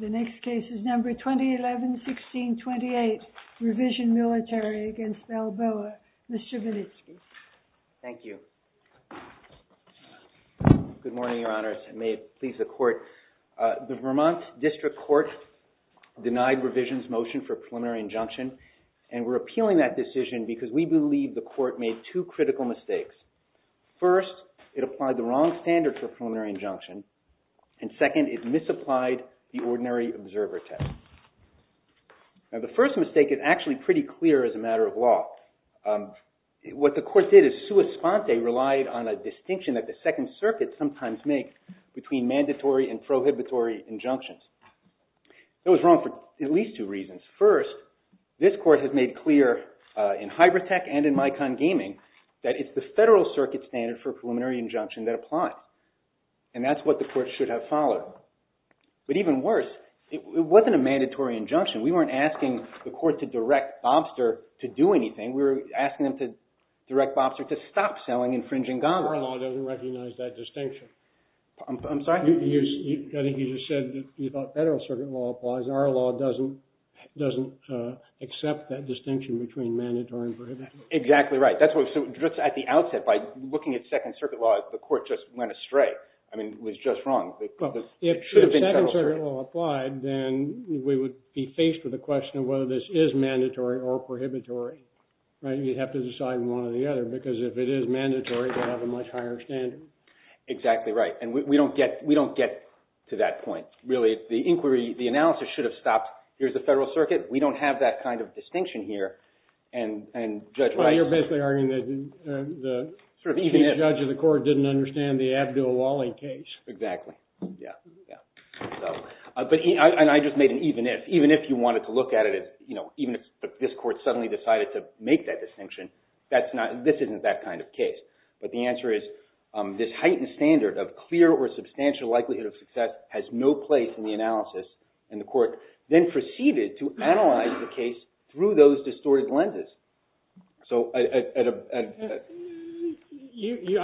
The next case is number 2011-16-28, Revision Military v. Balboa. Mr. Vinitsky. Thank you. Good morning, Your Honors, and may it please the Court. The Vermont District Court denied Revision's motion for a preliminary injunction, and we're appealing that decision because we believe the Court made two critical mistakes. First, it applied the wrong standard for a preliminary injunction, and second, it misapplied the ordinary observer test. The first mistake is actually pretty clear as a matter of law. What the Court did is sua sponte, relied on a distinction that the Second Circuit sometimes makes between mandatory and prohibitory injunctions. That was wrong for at least two reasons. First, this Court has made clear in HyberTech and in MyCon Gaming that it's the Federal Circuit standard for And that's what the Court should have followed. But even worse, it wasn't a mandatory injunction. We weren't asking the Court to direct Bobster to do anything. We were asking them to direct Bobster to stop selling infringing goblets. Our law doesn't recognize that distinction. I'm sorry? I think you just said that you thought Federal Circuit law applies. Our law doesn't accept that distinction between mandatory and prohibitory. Exactly right. So just at the outset, by looking at Second Circuit law, the Court just went straight. I mean, it was just wrong. If Second Circuit law applied, then we would be faced with a question of whether this is mandatory or prohibitory. You'd have to decide one or the other because if it is mandatory, they have a much higher standard. Exactly right. And we don't get to that point. Really, the inquiry, the analysis should have stopped. Here's the Federal Circuit. We don't have that kind of distinction here. And Judge Rice... The Chief Judge of the Court didn't understand the Abdul-Wali case. Exactly. And I just made an even if. Even if you wanted to look at it, even if this Court suddenly decided to make that distinction, this isn't that kind of case. But the answer is this heightened standard of clear or substantial likelihood of success has no place in the analysis. And the Court then proceeded to analyze the case through those distorted lenses. I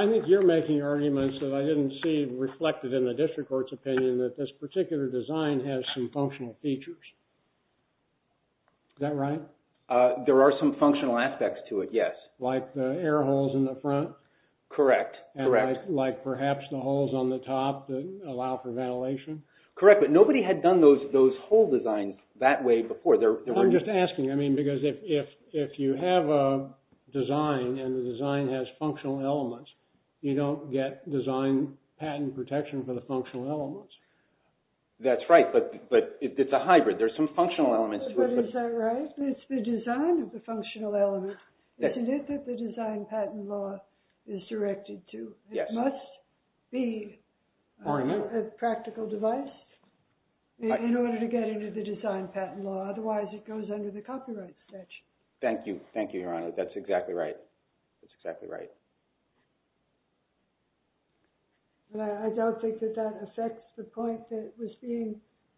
think you're making arguments that I didn't see reflected in the District Court's opinion that this particular design has some functional features. Is that right? There are some functional aspects to it, yes. Like the air holes in the front? Correct. Correct. Like perhaps the holes on the top that allow for ventilation? Correct. But nobody had done those hole designs that way before. I'm just asking because if you have a design and the design has functional elements, you don't get design patent protection for the functional elements. That's right. But it's a hybrid. There's some functional elements to it. But is that right? It's the design of the functional elements, isn't it, that the design patent law is directed to? It must be a practical device in order to get into the design patent law. Otherwise, it goes under the copyright statute. Thank you. Thank you, Your Honor. That's exactly right. That's exactly right. But I don't think that that affects the point that was being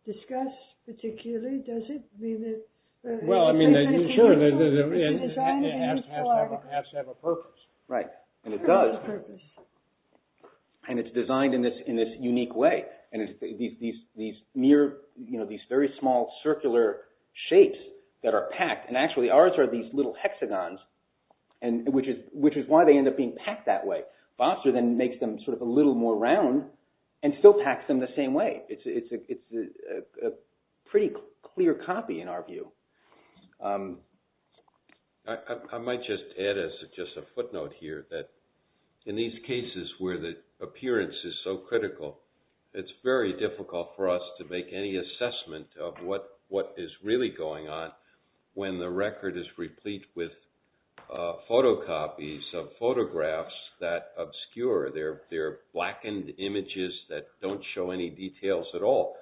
discussed particularly, does it? I mean, the design has to have a purpose. Right, and it does. And it's designed in this unique way. And these very small circular shapes that are packed, and actually ours are these little hexagons, which is why they end up being packed that way. Foster then makes them sort of a little more round and still packs them the same way. It's a pretty clear copy in our view. I might just add as just a footnote here that in these cases where the appearance is so clear, it's really going on when the record is replete with photocopies of photographs that obscure. They're blackened images that don't show any details at all.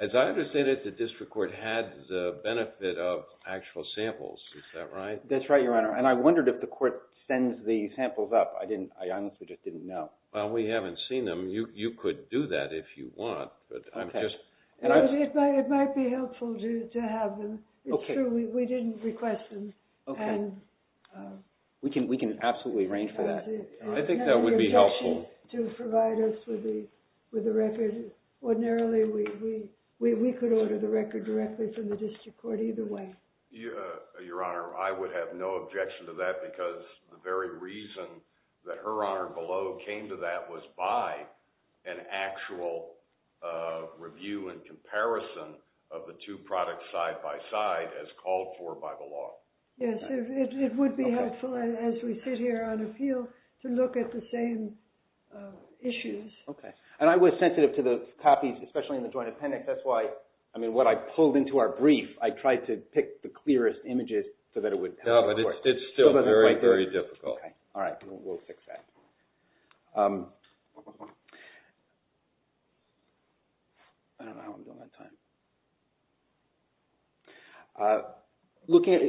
As I understand it, the district court had the benefit of actual samples. Is that right? That's right, Your Honor. And I wondered if the court sends the samples up. I honestly just didn't know. Well, we haven't seen them. You could do that if you want, but I'm just... It might be helpful to have them. It's true, we didn't request them. Okay. We can absolutely arrange for that. I think that would be helpful. We have no objection to provide us with the record. Ordinarily, we could order the record directly from the district court either way. Your Honor, I would have no objection to that because the very reason that Her Honor Below came to that was by an actual review and comparison of the two products side by side as called for by the law. Yes, it would be helpful as we sit here on a field to look at the same issues. Okay. And I was sensitive to the copies, especially in the joint appendix. That's why, I mean, what I pulled into our brief, I tried to pick the clearest images so that it would... No, but it's still very, very difficult. Okay. All right. We'll fix that. I don't know how I'm doing on time.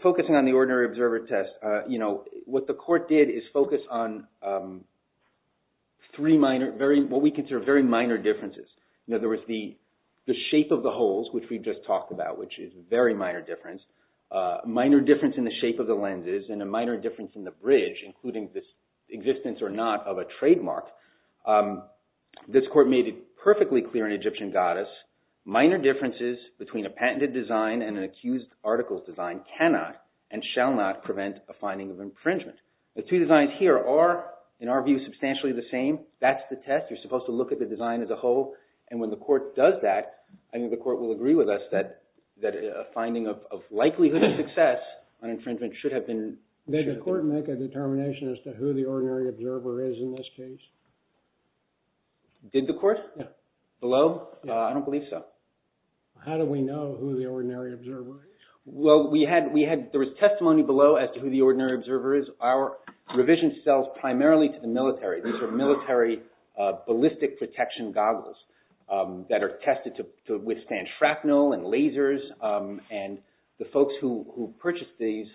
Focusing on the ordinary observer test, what the court did is focus on three minor, what we consider very minor differences. In other words, the shape of the holes, which we just saw, the difference in the shape of the lenses, and a minor difference in the bridge, including this existence or not of a trademark. This court made it perfectly clear in Egyptian Goddess, minor differences between a patented design and an accused article's design cannot and shall not prevent a finding of infringement. The two designs here are, in our view, substantially the same. That's the test. You're supposed to look at the design as a whole. And when the court does that, I think the court will agree with us that a finding of likelihood of success on infringement should have been... Did the court make a determination as to who the ordinary observer is in this case? Did the court? Yeah. Below? Yeah. I don't believe so. How do we know who the ordinary observer is? Well, there was testimony below as to who the ordinary observer is. Our revision sells primarily to the military. These are military ballistic protection goggles that are tested to withstand shrapnel and lasers. And the folks who purchased these,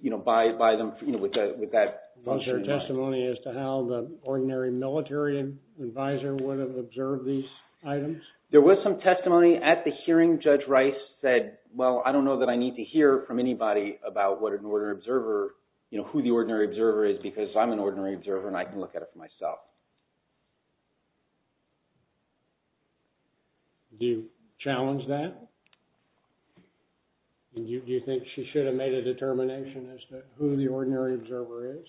you know, buy them with that... Was there testimony as to how the ordinary military advisor would have observed these items? There was some testimony at the hearing. Judge Rice said, well, I don't know that I need to hear from anybody about what an ordinary observer, you know, who the ordinary observer is because I'm an ordinary observer and I can look at it for myself. Do you challenge that? Do you think she should have made a determination as to who the ordinary observer is?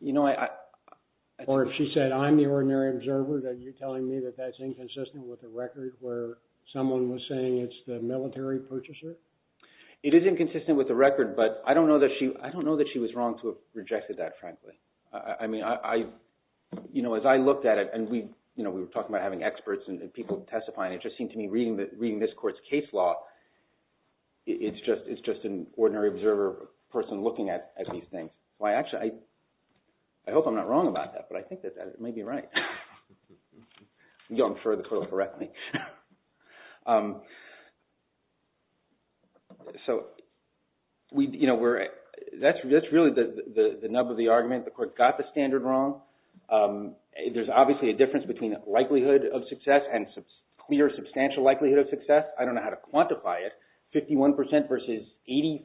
You know, I... Or if she said, I'm the ordinary observer, then you're telling me that that's inconsistent with the record where someone was saying it's the military purchaser? It is inconsistent with the record, but I don't know that she was wrong to have rejected that, frankly. I mean, as I looked at it, and we were talking about having experts and people testifying, it just seemed to me reading this court's case law, it's just an ordinary observer person looking at these things. Well, actually, I hope I'm not wrong about that, but I think that it may be right. You don't infer the total correctly. So, you know, that's really the nub of the argument. The court got the standard wrong. There's obviously a difference between likelihood of success and clear substantial likelihood of success. I don't know how to quantify it. 51% versus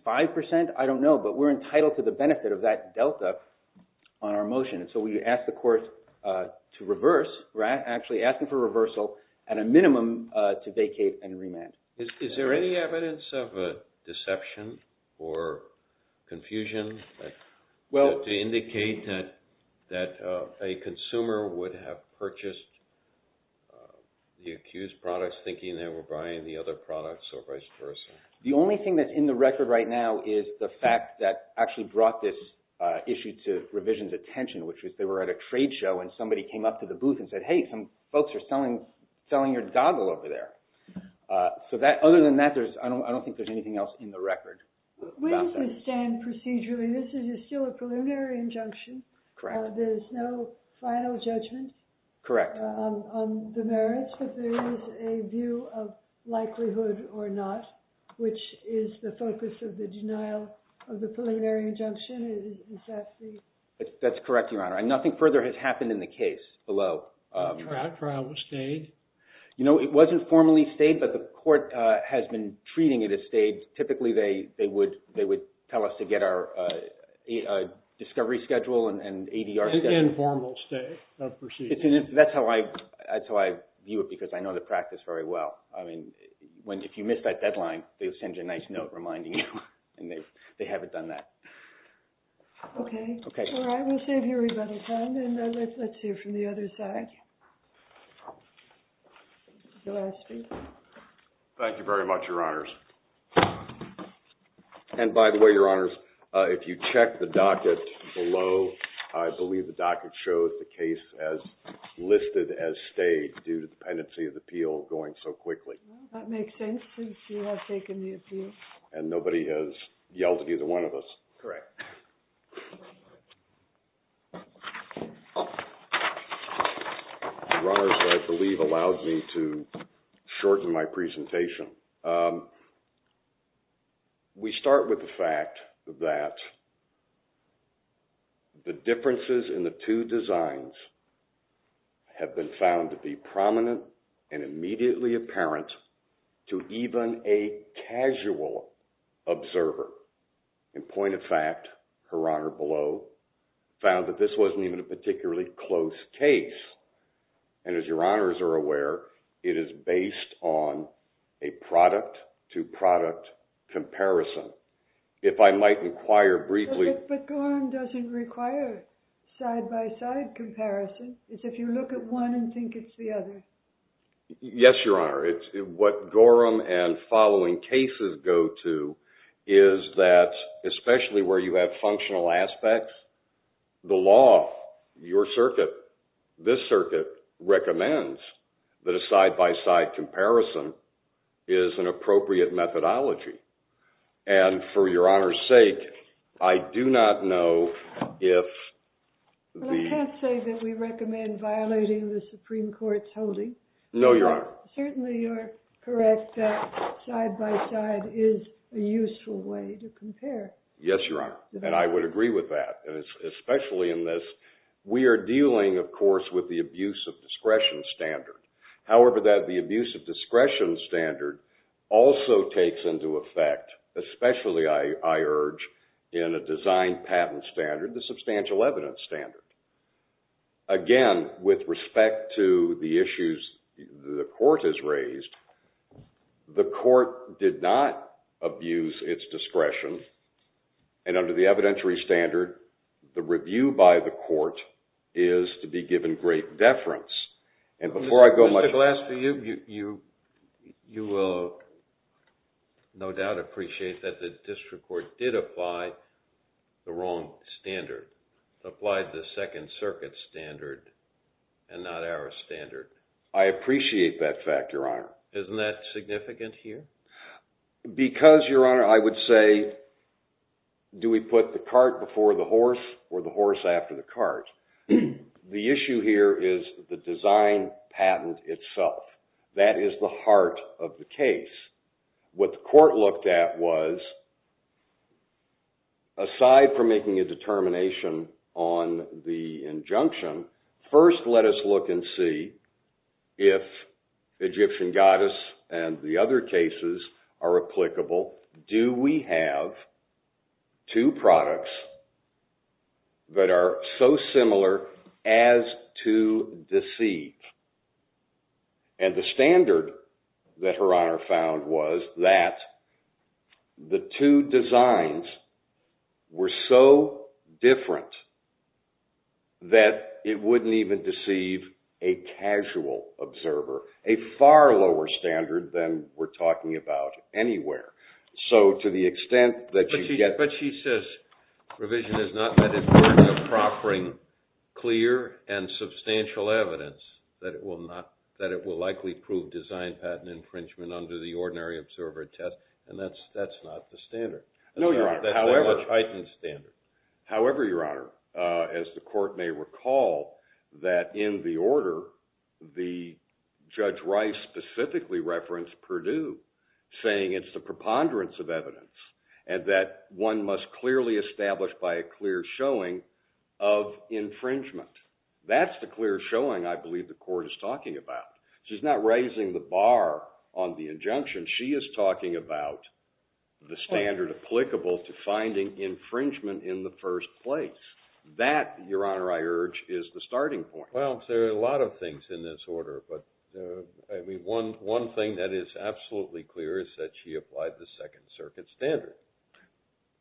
85%? I don't know, but we're entitled to the benefit of that delta on our motion, and so we ask the court to reverse. We're actually asking for reversal and a minimum to vacate and remand. Is there any evidence of deception or confusion to indicate that a consumer would have purchased the accused products thinking they were buying the other products or vice versa? The only thing that's in the record right now is the fact that actually brought this issue to revision's attention, which was they were at a trade show and somebody came up to the booth and said, hey, some folks are selling your doggle over there. So, other than that, I don't think there's anything else in the record. We understand procedurally this is still a preliminary injunction. Correct. There's no final judgment. Correct. On the merits, but there is a view of likelihood or not, which is the focus of the denial of the preliminary injunction. Is that the... That's correct, Your Honor, and nothing further has happened in the case below. The trial was stayed? You know, it wasn't formally stayed, but the court has been treating it as stayed. Typically, they would tell us to get our discovery schedule and ADR schedule. And formal stay of proceedings. That's how I view it because I know the practice very well. I mean, if you miss that deadline, they'll send you a nice note reminding you, and they haven't done that. Okay. Okay. All right, we'll save your rebuttal time, and let's hear from the other side. Thank you very much, Your Honors. And by the way, Your Honors, if you check the docket below, I believe the docket shows the case as listed as stayed due to dependency of the appeal going so quickly. That makes sense since you have taken the appeal. And nobody has yelled at either one of us. Correct. Your Honors, I believe, allowed me to shorten my presentation. We start with the fact that the differences in the two designs have been found to be prominent and immediately apparent to even a casual observer. In point of fact, Her Honor below found that this wasn't even a particularly close case. And as Your Honors are aware, it is based on a product-to-product comparison. If I might inquire briefly... But Gorham doesn't require side-by-side comparison. It's if you look at one and think it's the other. Yes, Your Honor. What Gorham and following cases go to is that especially where you have functional aspects, the law, your circuit, this circuit, recommends that a side-by-side comparison is an appropriate methodology. And for Your Honor's sake, I do not know if... Well, I can't say that we recommend violating the Supreme Court's holding. No, Your Honor. Certainly you're correct that side-by-side is a useful way to compare. Yes, Your Honor. And I would agree with that. And especially in this, we are dealing, of course, with the abuse of discretion standard. However, the abuse of discretion standard also takes into effect, especially, I urge, in a design patent standard, the substantial evidence standard. Again, with respect to the issues the Court has raised, the Court did not abuse its discretion. And under the evidentiary standard, the review by the Court is to be given great deference. And before I go much further... Mr. Glasper, you will no doubt appreciate that the District Court did apply the wrong standard, applied the Second Circuit standard and not our standard. I appreciate that fact, Your Honor. Isn't that significant here? Because, Your Honor, I would say, do we put the cart before the horse or the horse after the cart? The issue here is the design patent itself. That is the heart of the case. What the Court looked at was, aside from making a determination on the injunction, first let us look and see if Egyptian Goddess and the other cases are applicable. Do we have two products that are so similar as to deceive? And the standard that Her Honor found was that the two designs were so different that it wouldn't even deceive a casual observer, a far lower standard than we're talking about anywhere. So to the extent that you get... But she says revision is not meant in terms of proffering clear and substantial evidence that it will likely prove design patent infringement under the ordinary observer test, and that's not the standard. No, Your Honor. However... That's the much heightened standard. However, Your Honor, as the Court may recall, that in the order, the Judge Rice specifically referenced Perdue, saying it's the preponderance of evidence and that one must clearly establish by a clear showing of infringement. That's the clear showing I believe the Court is talking about. She's not raising the bar on the injunction. She is talking about the standard applicable to finding infringement in the first place. That, Your Honor, I urge, is the starting point. Well, there are a lot of things in this order, but one thing that is absolutely clear is that she applied the Second Circuit standard.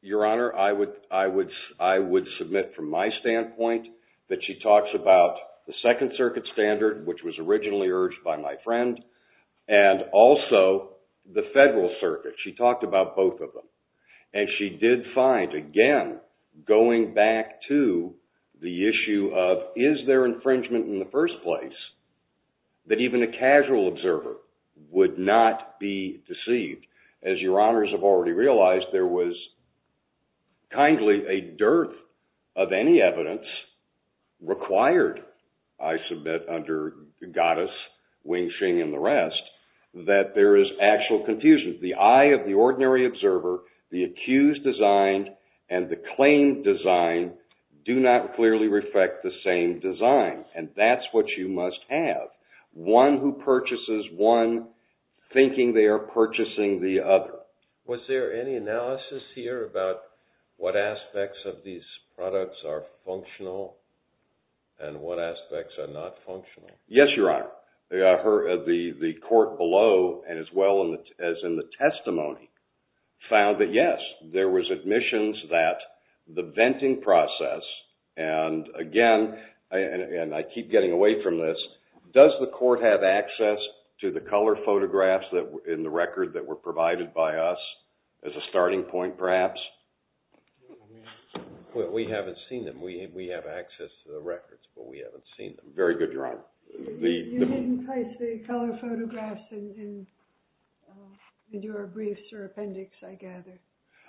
Your Honor, I would submit from my standpoint that she talks about the Second Circuit standard, which was originally urged by my friend, and also the Federal Circuit. She talked about both of them. And she did find, again, going back to the issue of is there infringement in the first place, that even a casual observer would not be deceived. As Your Honors have already realized, there was kindly a dearth of any evidence required, I submit, under Gaddis, Wing-Shing, and the rest, that there is actual confusion. The eye of the ordinary observer, the accused designed, and the claimed designed, do not clearly reflect the same design. And that's what you must have. One who purchases one thinking they are purchasing the other. Was there any analysis here about what aspects of these products are functional and what aspects are not functional? Yes, Your Honor. The court below, and as well as in the testimony, found that yes, there was admissions that the venting process, and again, and I keep getting away from this, does the court have access to the color photographs in the record that were provided by us as a starting point, perhaps? We haven't seen them. We have access to the records, but we haven't seen them. Very good, Your Honor. You didn't place the color photographs in your briefs or appendix, I gather.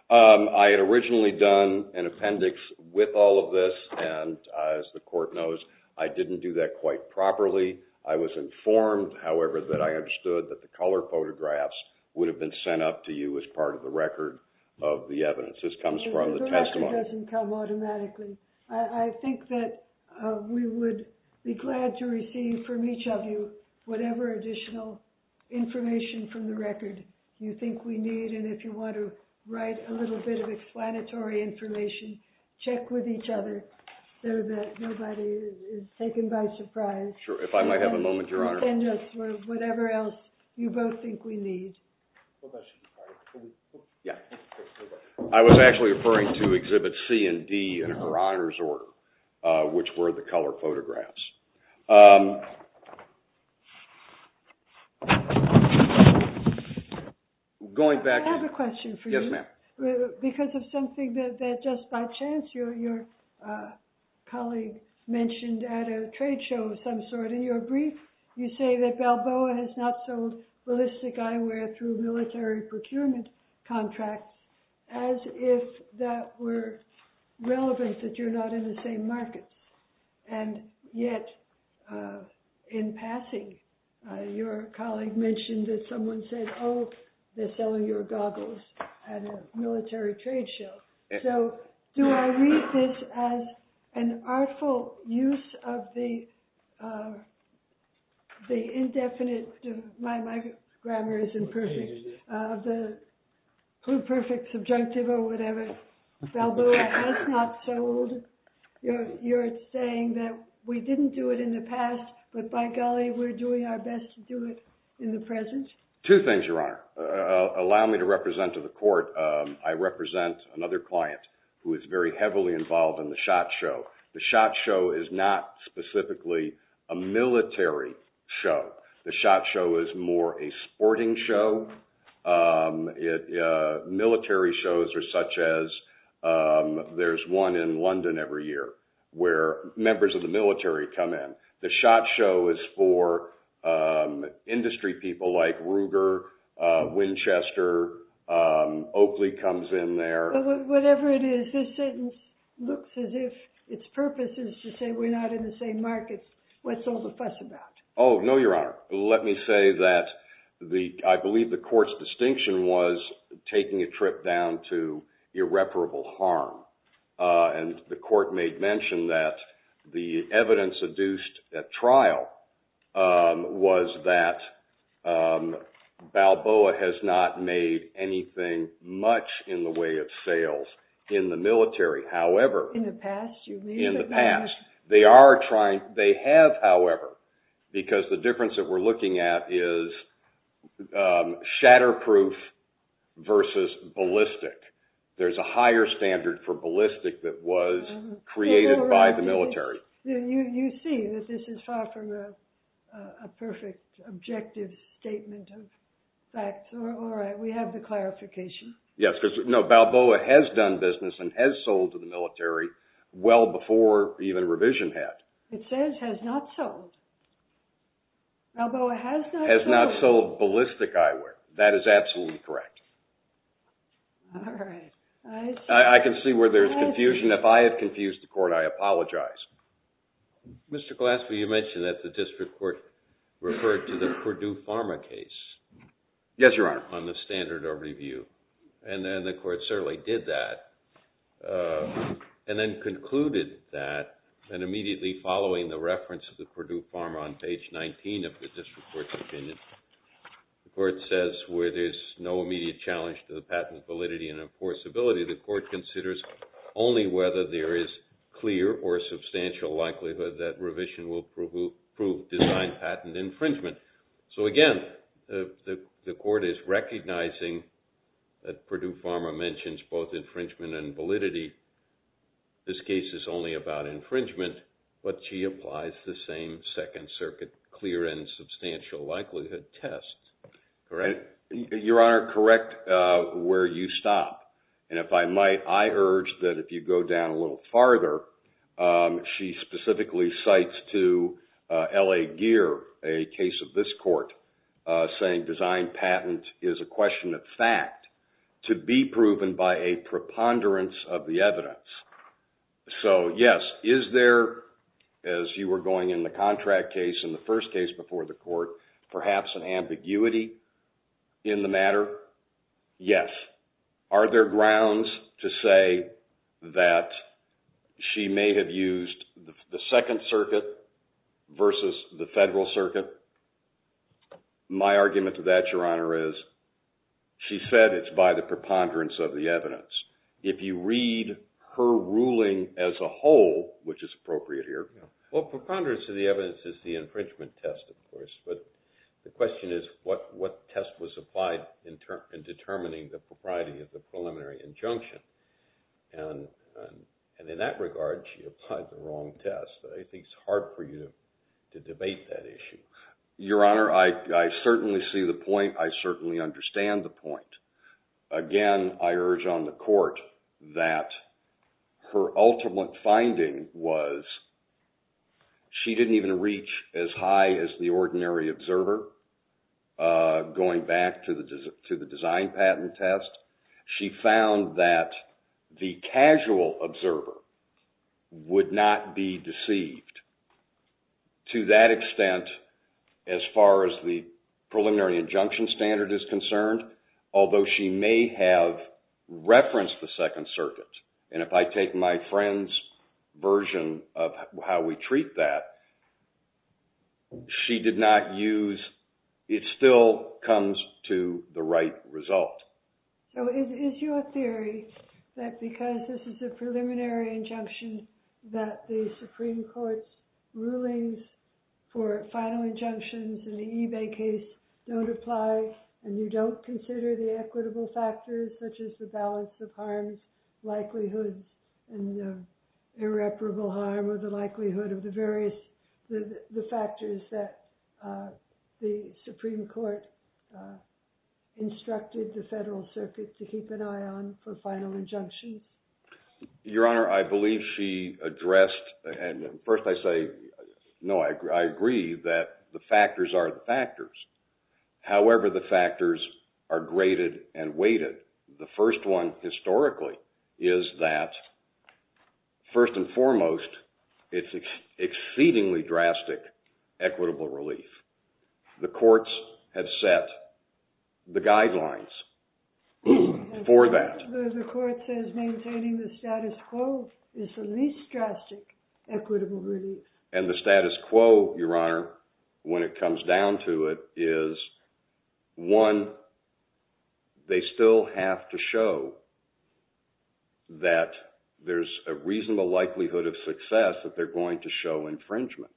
I had originally done an appendix with all of this, and as the court knows, I didn't do that quite properly. I was informed, however, that I understood that the color photographs would have been sent up to you as part of the record of the evidence. This comes from the testimony. The record doesn't come automatically. I think that we would be glad to receive from each of you whatever additional information from the record you think we need, and if you want to write a little bit of explanatory information, check with each other so that nobody is taken by surprise. Sure, if I might have a moment, Your Honor. Send us whatever else you both think we need. I was actually referring to Exhibits C and D in Her Honor's order, which were the color photographs. I have a question for you. Yes, ma'am. Because of something that just by chance your colleague mentioned at a trade show of some sort in your brief, you say that Balboa has not sold ballistic eyewear through military procurement contracts as if that were relevant that you're not in the same markets, and yet in passing your colleague mentioned that someone said, oh, they're selling your goggles at a military trade show. So do I read this as an artful use of the indefinite, my grammar is imperfect, of the perfect subjunctive or whatever? Balboa has not sold. You're saying that we didn't do it in the past, but by golly we're doing our best to do it in the present? Two things, Your Honor. Allow me to represent to the court. I represent another client who is very heavily involved in the SHOT Show. The SHOT Show is not specifically a military show. The SHOT Show is more a sporting show. Military shows are such as there's one in London every year where members of the military come in. The SHOT Show is for industry people like Ruger, Winchester, Oakley comes in there. Whatever it is, this sentence looks as if its purpose is to say we're not in the same markets. What's all the fuss about? Oh, no, Your Honor. Let me say that I believe the court's distinction was taking a trip down to irreparable harm. The court made mention that the evidence adduced at trial was that Balboa has not made anything much in the way of sales in the military. In the past, you mean? In the past. They have, however, because the difference that we're looking at is shatterproof versus ballistic. There's a higher standard for ballistic that was created by the military. You see that this is far from a perfect objective statement of facts. All right. We have the clarification. Yes. No, Balboa has done business and has sold to the military well before even revision had. It says has not sold. Balboa has not sold. Has not sold ballistic eyewear. That is absolutely correct. All right. I can see where there's confusion. If I have confused the court, I apologize. Mr. Glasper, you mentioned that the district court referred to the Purdue Pharma case. Yes, Your Honor. On the standard of review, and then the court certainly did that, and then concluded that, and immediately following the reference of the Purdue Pharma on page 19 of the district court's opinion, the court says where there's no immediate challenge to the patent validity and enforceability, the court considers only whether there is clear or substantial likelihood that revision will prove designed patent infringement. So, again, the court is recognizing that Purdue Pharma mentions both infringement and validity. This case is only about infringement, but she applies the same Second Circuit clear and substantial likelihood test. Correct? Your Honor, correct where you stop. And if I might, I urge that if you go down a little farther, she specifically cites to L.A. Gear, a case of this court, saying designed patent is a question of fact, to be proven by a preponderance of the evidence. So, yes, is there, as you were going in the contract case in the first case before the court, perhaps an ambiguity in the matter? Yes. Are there grounds to say that she may have used the Second Circuit versus the Federal Circuit? My argument to that, Your Honor, is she said it's by the preponderance of the evidence. If you read her ruling as a whole, which is appropriate here. Well, preponderance of the evidence is the infringement test, of course, but the question is what test was applied in determining the propriety of the preliminary injunction. And in that regard, she applied the wrong test. I think it's hard for you to debate that issue. Your Honor, I certainly see the point. I certainly understand the point. Again, I urge on the court that her ultimate finding was she didn't even reach as high as the ordinary observer, going back to the designed patent test. She found that the casual observer would not be deceived to that extent as far as the preliminary injunction standard is concerned. Although she may have referenced the Second Circuit. And if I take my friend's version of how we treat that, she did not use, it still comes to the right result. So is your theory that because this is a preliminary injunction that the Supreme Court's rulings for final injunctions in the eBay case don't apply, and you don't consider the equitable factors such as the balance of harms, likelihoods, and irreparable harm, or the likelihood of the various factors that the Supreme Court instructed the Federal Circuit to keep an eye on for final injunction? Your Honor, I believe she addressed, and first I say, no, I agree that the factors are the factors. However, the factors are graded and weighted. The first one, historically, is that first and foremost, it's exceedingly drastic equitable relief. The courts have set the guidelines for that. The court says maintaining the status quo is the least drastic equitable relief. And the status quo, Your Honor, when it comes down to it, is one, they still have to show that there's a reasonable likelihood of success that they're going to show infringement.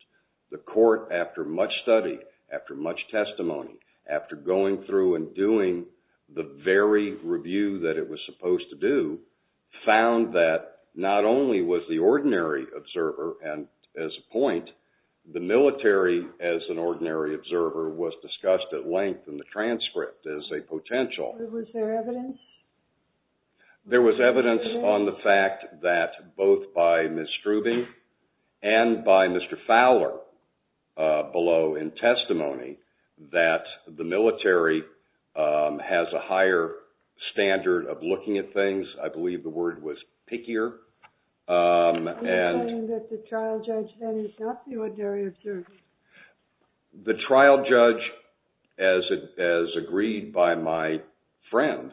The court, after much study, after much testimony, after going through and doing the very review that it was supposed to do, found that not only was the ordinary observer, and as a point, the military as an ordinary observer was discussed at length in the transcript as a potential. Was there evidence? There was evidence on the fact that both by Ms. Strubing and by Mr. Fowler below in testimony that the military has a higher standard of looking at things. I believe the word was pickier. You're saying that the trial judge is not the ordinary observer? The trial judge, as agreed by my friend,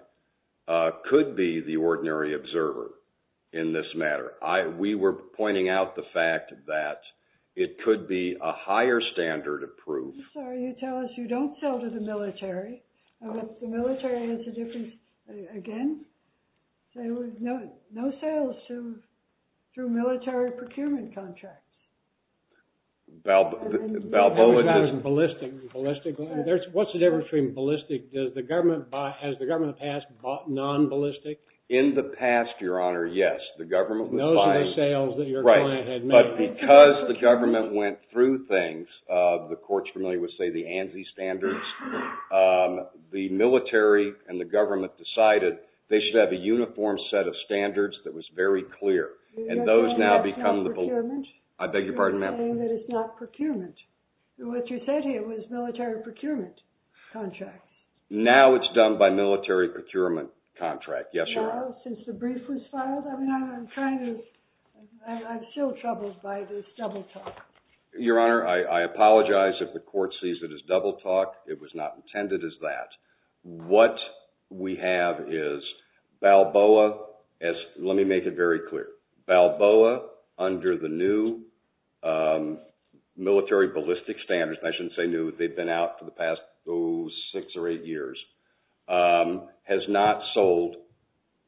could be the ordinary observer in this matter. We were pointing out the fact that it could be a higher standard of proof. I'm sorry, you tell us you don't sell to the military. The military has a different, again, no sales through military procurement contracts. What's the difference between ballistic? Has the government in the past bought non-ballistic? In the past, Your Honor, yes. Those are the sales that your client had made. But because the government went through things, the court's familiar with, say, the ANSI standards, the military and the government decided they should have a uniform set of standards that was very clear. You're saying that it's not procurement? I beg your pardon, ma'am. You're saying that it's not procurement. What you said here was military procurement contracts. Now it's done by military procurement contract, yes, Your Honor. Since the brief was filed? I'm still troubled by this double talk. Your Honor, I apologize if the court sees it as double talk. It was not intended as that. What we have is Balboa, let me make it very clear. Balboa, under the new military ballistic standards, and I shouldn't say new, they've been out for the past six or eight years, has not sold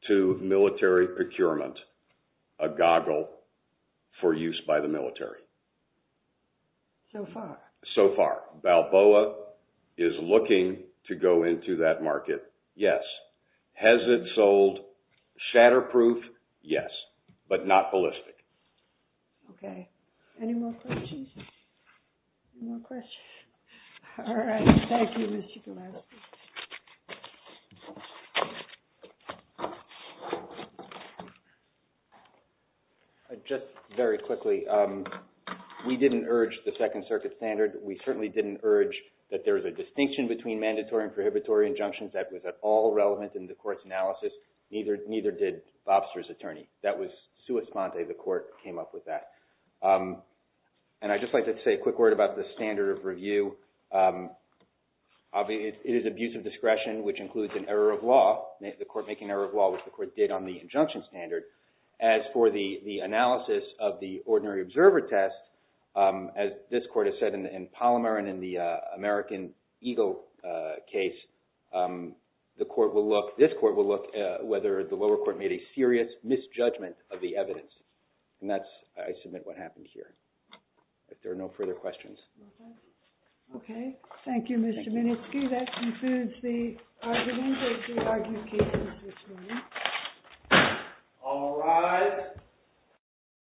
to military procurement a goggle for use by the military. So far. Has it sold anything to go into that market? Yes. Has it sold shatterproof? Yes. But not ballistic. Okay. Any more questions? No questions? All right. Thank you, Mr. Gillespie. Just very quickly, we didn't urge the Second Circuit standard. We certainly didn't urge that there was a distinction between mandatory and prohibitory injunctions. That was at all relevant in the court's analysis. Neither did Bobster's attorney. That was sua sponte. The court came up with that. And I'd just like to say a quick word about the standard of review. It is abuse of discretion, which includes an error of law, the court making an error of law, which the court did on the injunction standard. As for the analysis of the ordinary observer test, as this court has said in Palmer and in the American Eagle case, this court will look whether the lower court made a serious misjudgment of the evidence. And that's, I submit, what happened here. If there are no further questions. Okay. Thank you, Mr. Miniski. Thank you. That concludes the argument of the argument cases this morning. All right.